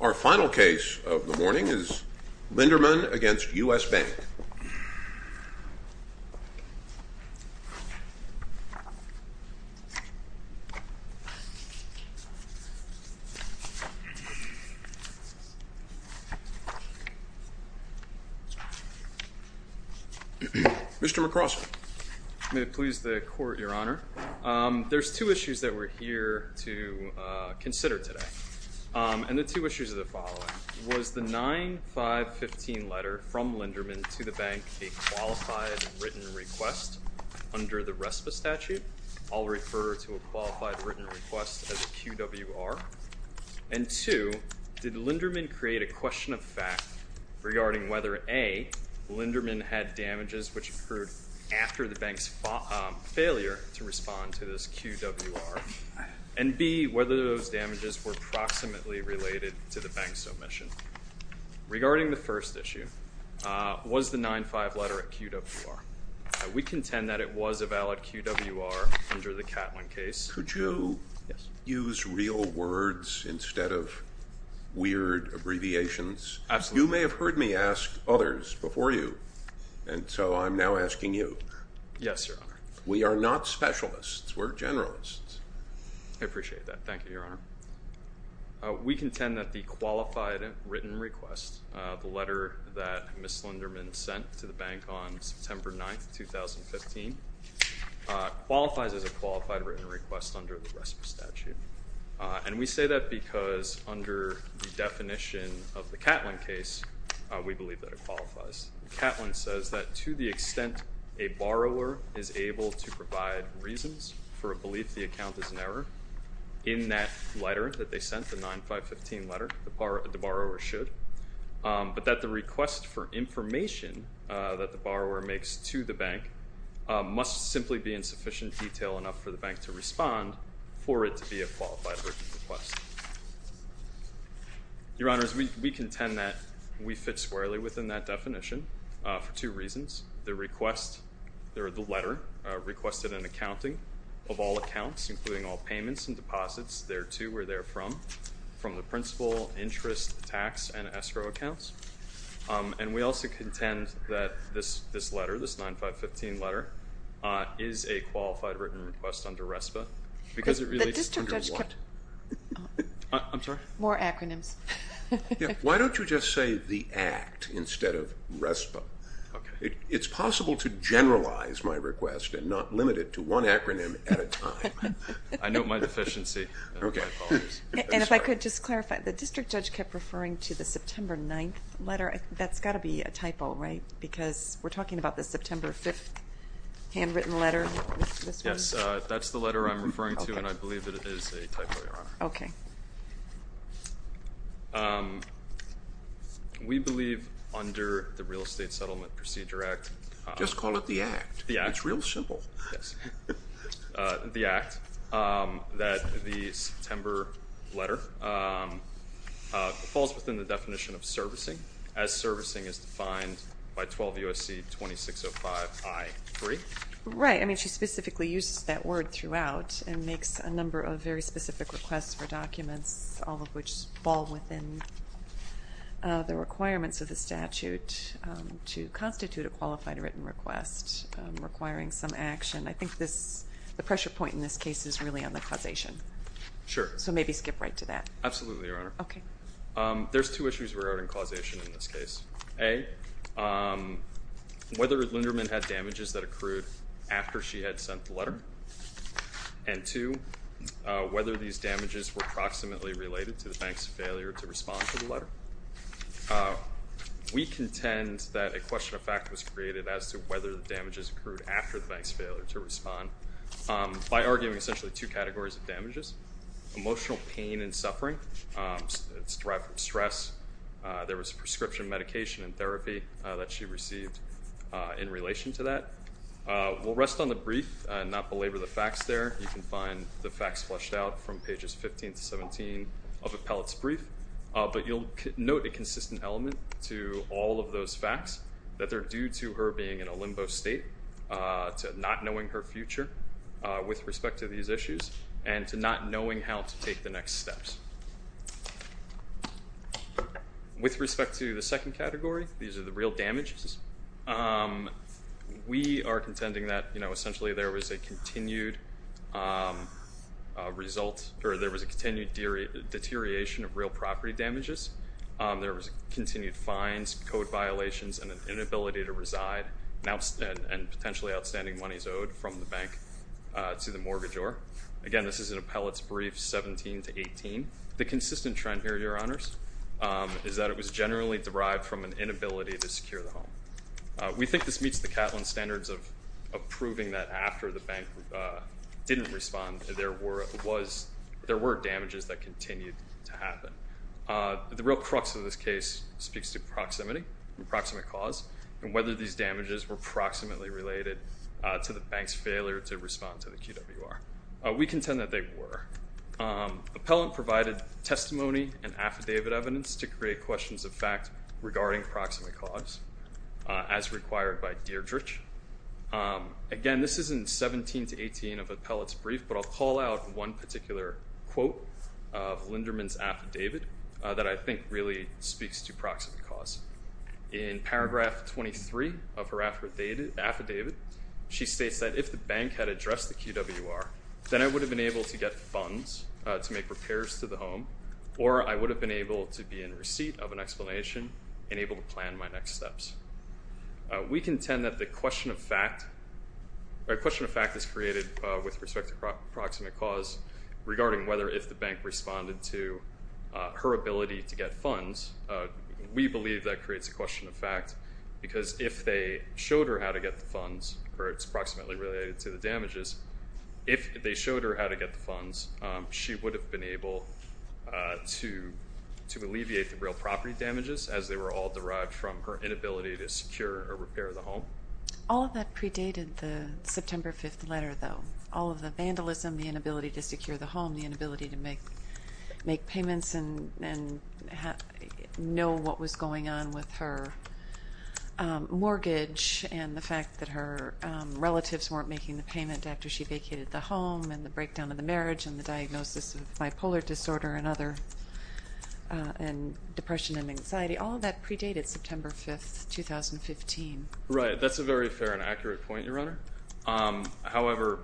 Our final case of the morning is Linderman v. U.S. Bank Mr. McCrossin May it please the Court, Your Honor. There's two issues that we're here to consider today. And the two issues are the following. Was the 9-5-15 letter from Linderman to the bank a qualified written request under the RESPA statute? I'll refer to a qualified written request as a QWR. And two, did Linderman create a question of fact regarding whether a. Linderman had damages which occurred after the bank's failure to respond to this QWR, and b. whether those damages were approximately related to the bank's submission. Regarding the first issue, was the 9-5-15 letter a QWR? We contend that it was a valid QWR under the Catlin case. Could you use real words instead of weird abbreviations? Absolutely. You may have heard me ask others before you, and so I'm now asking you. Yes, Your Honor. We are not specialists. We're generalists. I appreciate that. Thank you, Your Honor. We contend that the qualified written request, the letter that Ms. Linderman sent to the bank on September 9, 2015, qualifies as a qualified written request under the RESPA statute. And we say that because under the definition of the Catlin case, we believe that it qualifies. Catlin says that to the extent a borrower is able to provide reasons for a belief the account is an error, in that letter that they sent, the 9-5-15 letter, the borrower should, but that the request for information that the borrower makes to the bank must simply be in sufficient detail enough for the bank to respond for it to be a qualified written request. Your Honors, we contend that we fit squarely within that definition for two reasons. The request, or the letter, requested an accounting of all accounts, including all payments and deposits there to or there from, from the principal, interest, tax, and escrow accounts. And we also contend that this letter, this 9-5-15 letter, is a qualified written request under RESPA. Because it really is under what? I'm sorry? More acronyms. Why don't you just say the Act instead of RESPA? Okay. It's possible to generalize my request and not limit it to one acronym at a time. I note my deficiency. Okay. And if I could just clarify, the district judge kept referring to the September 9th letter. That's got to be a typo, right? Because we're talking about the September 5th handwritten letter. Yes, that's the letter I'm referring to, and I believe it is a typo, Your Honor. Okay. We believe under the Real Estate Settlement Procedure Act. Just call it the Act. The Act. It's real simple. Yes. The Act, that the September letter falls within the definition of servicing, as servicing is defined by 12 U.S.C. 2605 I.3. Right. I mean, she specifically uses that word throughout and makes a number of very specific requests for documents, all of which fall within the requirements of the statute to constitute a qualified written request requiring some action. I think the pressure point in this case is really on the causation. Sure. So maybe skip right to that. Absolutely, Your Honor. Okay. There's two issues regarding causation in this case. A, whether Linderman had damages that accrued after she had sent the letter, and two, whether these damages were approximately related to the bank's failure to respond to the letter. We contend that a question of fact was created as to whether the damages accrued after the bank's failure to respond, by arguing essentially two categories of damages, emotional pain and suffering. It's derived from stress. There was prescription medication and therapy that she received in relation to that. We'll rest on the brief and not belabor the facts there. You can find the facts fleshed out from pages 15 to 17 of Appellate's brief, but you'll note a consistent element to all of those facts, that they're due to her being in a limbo state, to not knowing her future with respect to these issues, and to not knowing how to take the next steps. With respect to the second category, these are the real damages. We are contending that, you know, essentially there was a continued result, or there was a continued deterioration of real property damages. There was continued fines, code violations, and an inability to reside, and potentially outstanding monies owed from the bank to the mortgagor. Again, this is in Appellate's brief 17 to 18. The consistent trend here, Your Honors, is that it was generally derived from an inability to secure the home. We think this meets the Catlin standards of proving that after the bank didn't respond, there were damages that continued to happen. The real crux of this case speaks to proximity and proximate cause, and whether these damages were proximately related to the bank's failure to respond to the QWR. We contend that they were. Appellant provided testimony and affidavit evidence to create questions of fact regarding proximate cause, as required by Deirdrich. But I'll call out one particular quote of Linderman's affidavit that I think really speaks to proximate cause. In paragraph 23 of her affidavit, she states that if the bank had addressed the QWR, then I would have been able to get funds to make repairs to the home, or I would have been able to be in receipt of an explanation and able to plan my next steps. We contend that the question of fact is created with respect to proximate cause regarding whether if the bank responded to her ability to get funds. We believe that creates a question of fact, because if they showed her how to get the funds, or it's proximately related to the damages, if they showed her how to get the funds, she would have been able to alleviate the real property damages, as they were all derived from her inability to secure a repair of the home. All of that predated the September 5th letter, though. All of the vandalism, the inability to secure the home, the inability to make payments and know what was going on with her mortgage, and the fact that her relatives weren't making the payment after she vacated the home, and the breakdown of the marriage and the diagnosis of bipolar disorder and depression and anxiety, all of that predated September 5th, 2015. Right. That's a very fair and accurate point, Your Honor. However,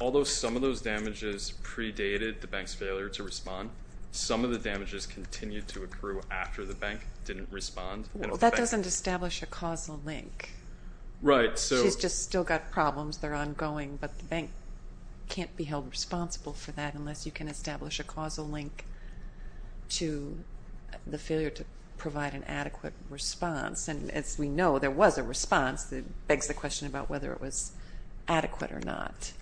although some of those damages predated the bank's failure to respond, some of the damages continued to occur after the bank didn't respond. Well, that doesn't establish a causal link. Right. She's just still got problems that are ongoing, but the bank can't be held responsible for that unless you can establish a causal link to the failure to provide an adequate response. And as we know, there was a response that begs the question about whether it was adequate or not.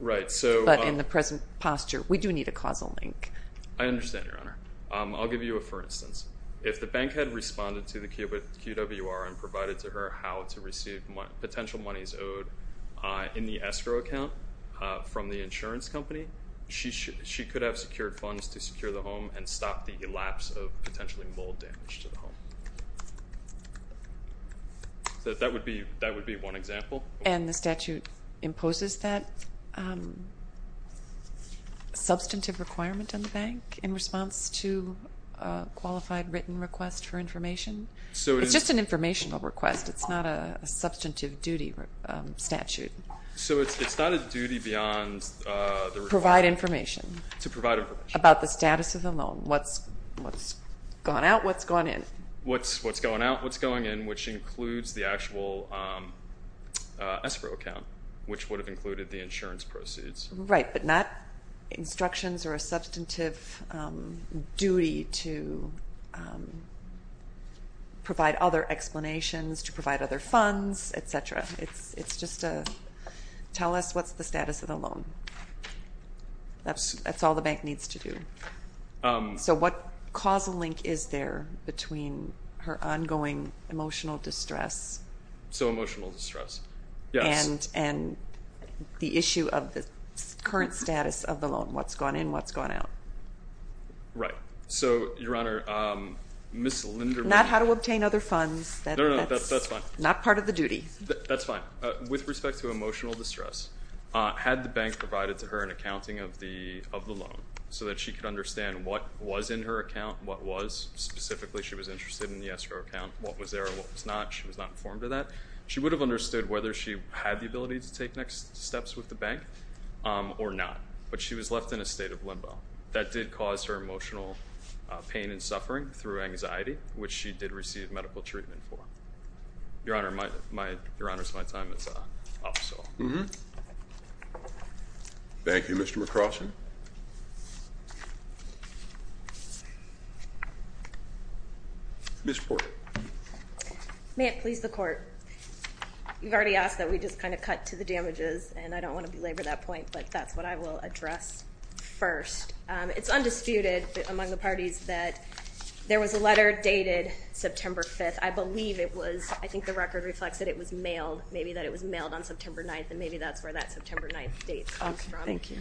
Right. But in the present posture, we do need a causal link. I'll give you a for instance. If the bank had responded to the QWR and provided to her how to receive potential monies owed in the escrow account from the insurance company, she could have secured funds to secure the home and stop the elapse of potentially mold damage to the home. That would be one example. And the statute imposes that substantive requirement on the bank in response to a qualified written request for information? It's just an informational request. It's not a substantive duty statute. So it's not a duty beyond the requirement. To provide information. To provide information. About the status of the loan, what's gone out, what's gone in. What's going out, what's going in, which includes the actual escrow account, which would have included the insurance proceeds. Right. But not instructions or a substantive duty to provide other explanations, to provide other funds, etc. It's just a tell us what's the status of the loan. That's all the bank needs to do. So what causal link is there between her ongoing emotional distress? So emotional distress, yes. And the issue of the current status of the loan, what's gone in, what's gone out. Right. So, Your Honor, Ms. Linderman Not how to obtain other funds, that's not part of the duty. That's fine. With respect to emotional distress, had the bank provided to her an accounting of the loan so that she could understand what was in her account, what was. Specifically, she was interested in the escrow account. What was there and what was not. She was not informed of that. She would have understood whether she had the ability to take next steps with the bank or not. But she was left in a state of limbo. That did cause her emotional pain and suffering through anxiety, which she did receive medical treatment for. Your Honor, Your Honor, my time is up. Thank you, Mr. McCrossin. Thank you. Ms. Porter. May it please the Court. You've already asked that we just kind of cut to the damages, and I don't want to belabor that point, but that's what I will address first. It's undisputed among the parties that there was a letter dated September 5th. I believe it was, I think the record reflects that it was mailed, maybe that it was mailed on September 9th, and maybe that's where that September 9th date comes from. Okay, thank you.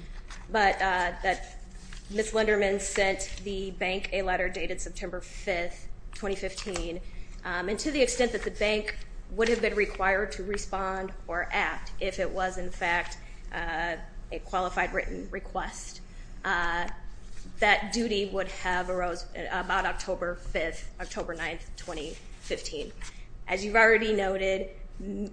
But that Ms. Linderman sent the bank a letter dated September 5th, 2015, and to the extent that the bank would have been required to respond or act if it was, in fact, a qualified written request, that duty would have arose about October 5th, October 9th, 2015. As you've already noted,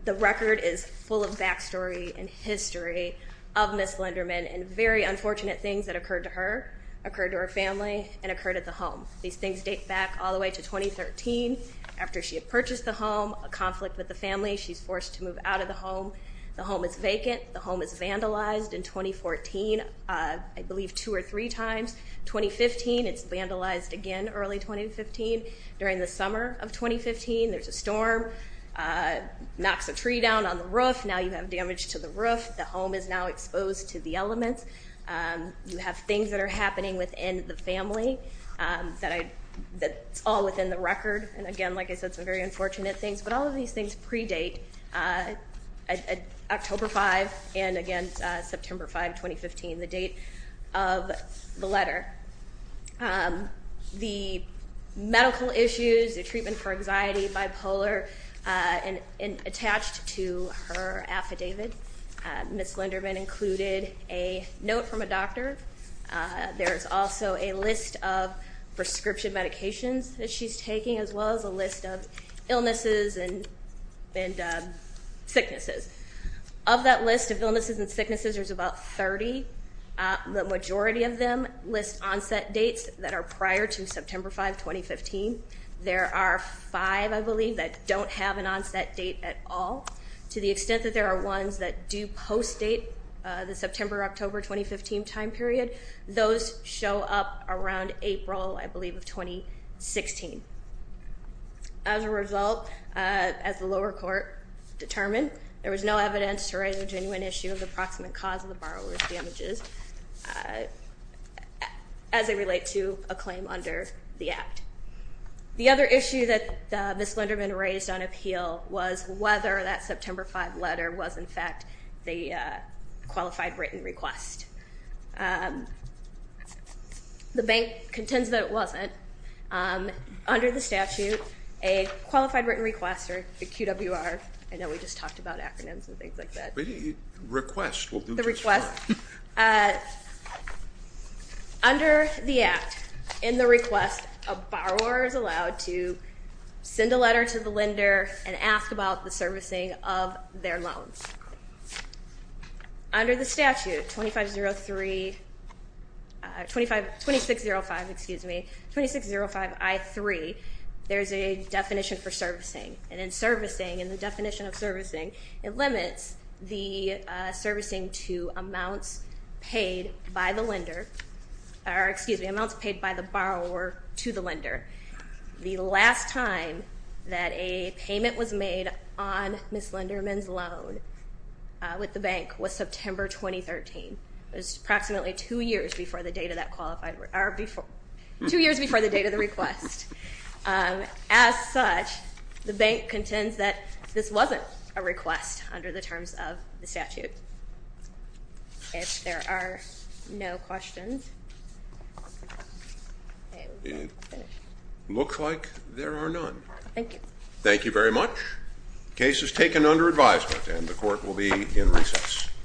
the record is full of backstory and history of Ms. Linderman and very unfortunate things that occurred to her, occurred to her family, and occurred at the home. These things date back all the way to 2013, after she had purchased the home, a conflict with the family, she's forced to move out of the home. The home is vacant. The home is vandalized in 2014, I believe two or three times. 2015, it's vandalized again early 2015. During the summer of 2015, there's a storm, knocks a tree down on the roof. Now you have damage to the roof. The home is now exposed to the elements. You have things that are happening within the family that's all within the record. And again, like I said, some very unfortunate things. But all of these things predate October 5th and, again, September 5th, 2015, the date of the letter. The medical issues, the treatment for anxiety, bipolar attached to her affidavit. Ms. Linderman included a note from a doctor. There's also a list of prescription medications that she's taking as well as a list of illnesses and sicknesses. Of that list of illnesses and sicknesses, there's about 30. The majority of them list onset dates that are prior to September 5th, 2015. There are five, I believe, that don't have an onset date at all. To the extent that there are ones that do post-date the September, October 2015 time period, those show up around April, I believe, of 2016. As a result, as the lower court determined, there was no evidence to raise a genuine issue of the proximate cause of the borrower's damages as they relate to a claim under the Act. The other issue that Ms. Linderman raised on appeal was whether that September 5th letter was, in fact, the qualified written request. The bank contends that it wasn't. Under the statute, a qualified written request, or a QWR, I know we just talked about acronyms and things like that. Request. The request. Under the Act, in the request, a borrower is allowed to send a letter to the lender and ask about the servicing of their loans. Under the statute, 2605I3, there's a definition for servicing. In the definition of servicing, it limits the servicing to amounts paid by the borrower to the lender. The last time that a payment was made on Ms. Linderman's loan with the bank was September 2013. It was approximately two years before the date of the request. As such, the bank contends that this wasn't a request under the terms of the statute. If there are no questions. It looks like there are none. Thank you. Thank you very much. Case is taken under advisement and the court will be in recess.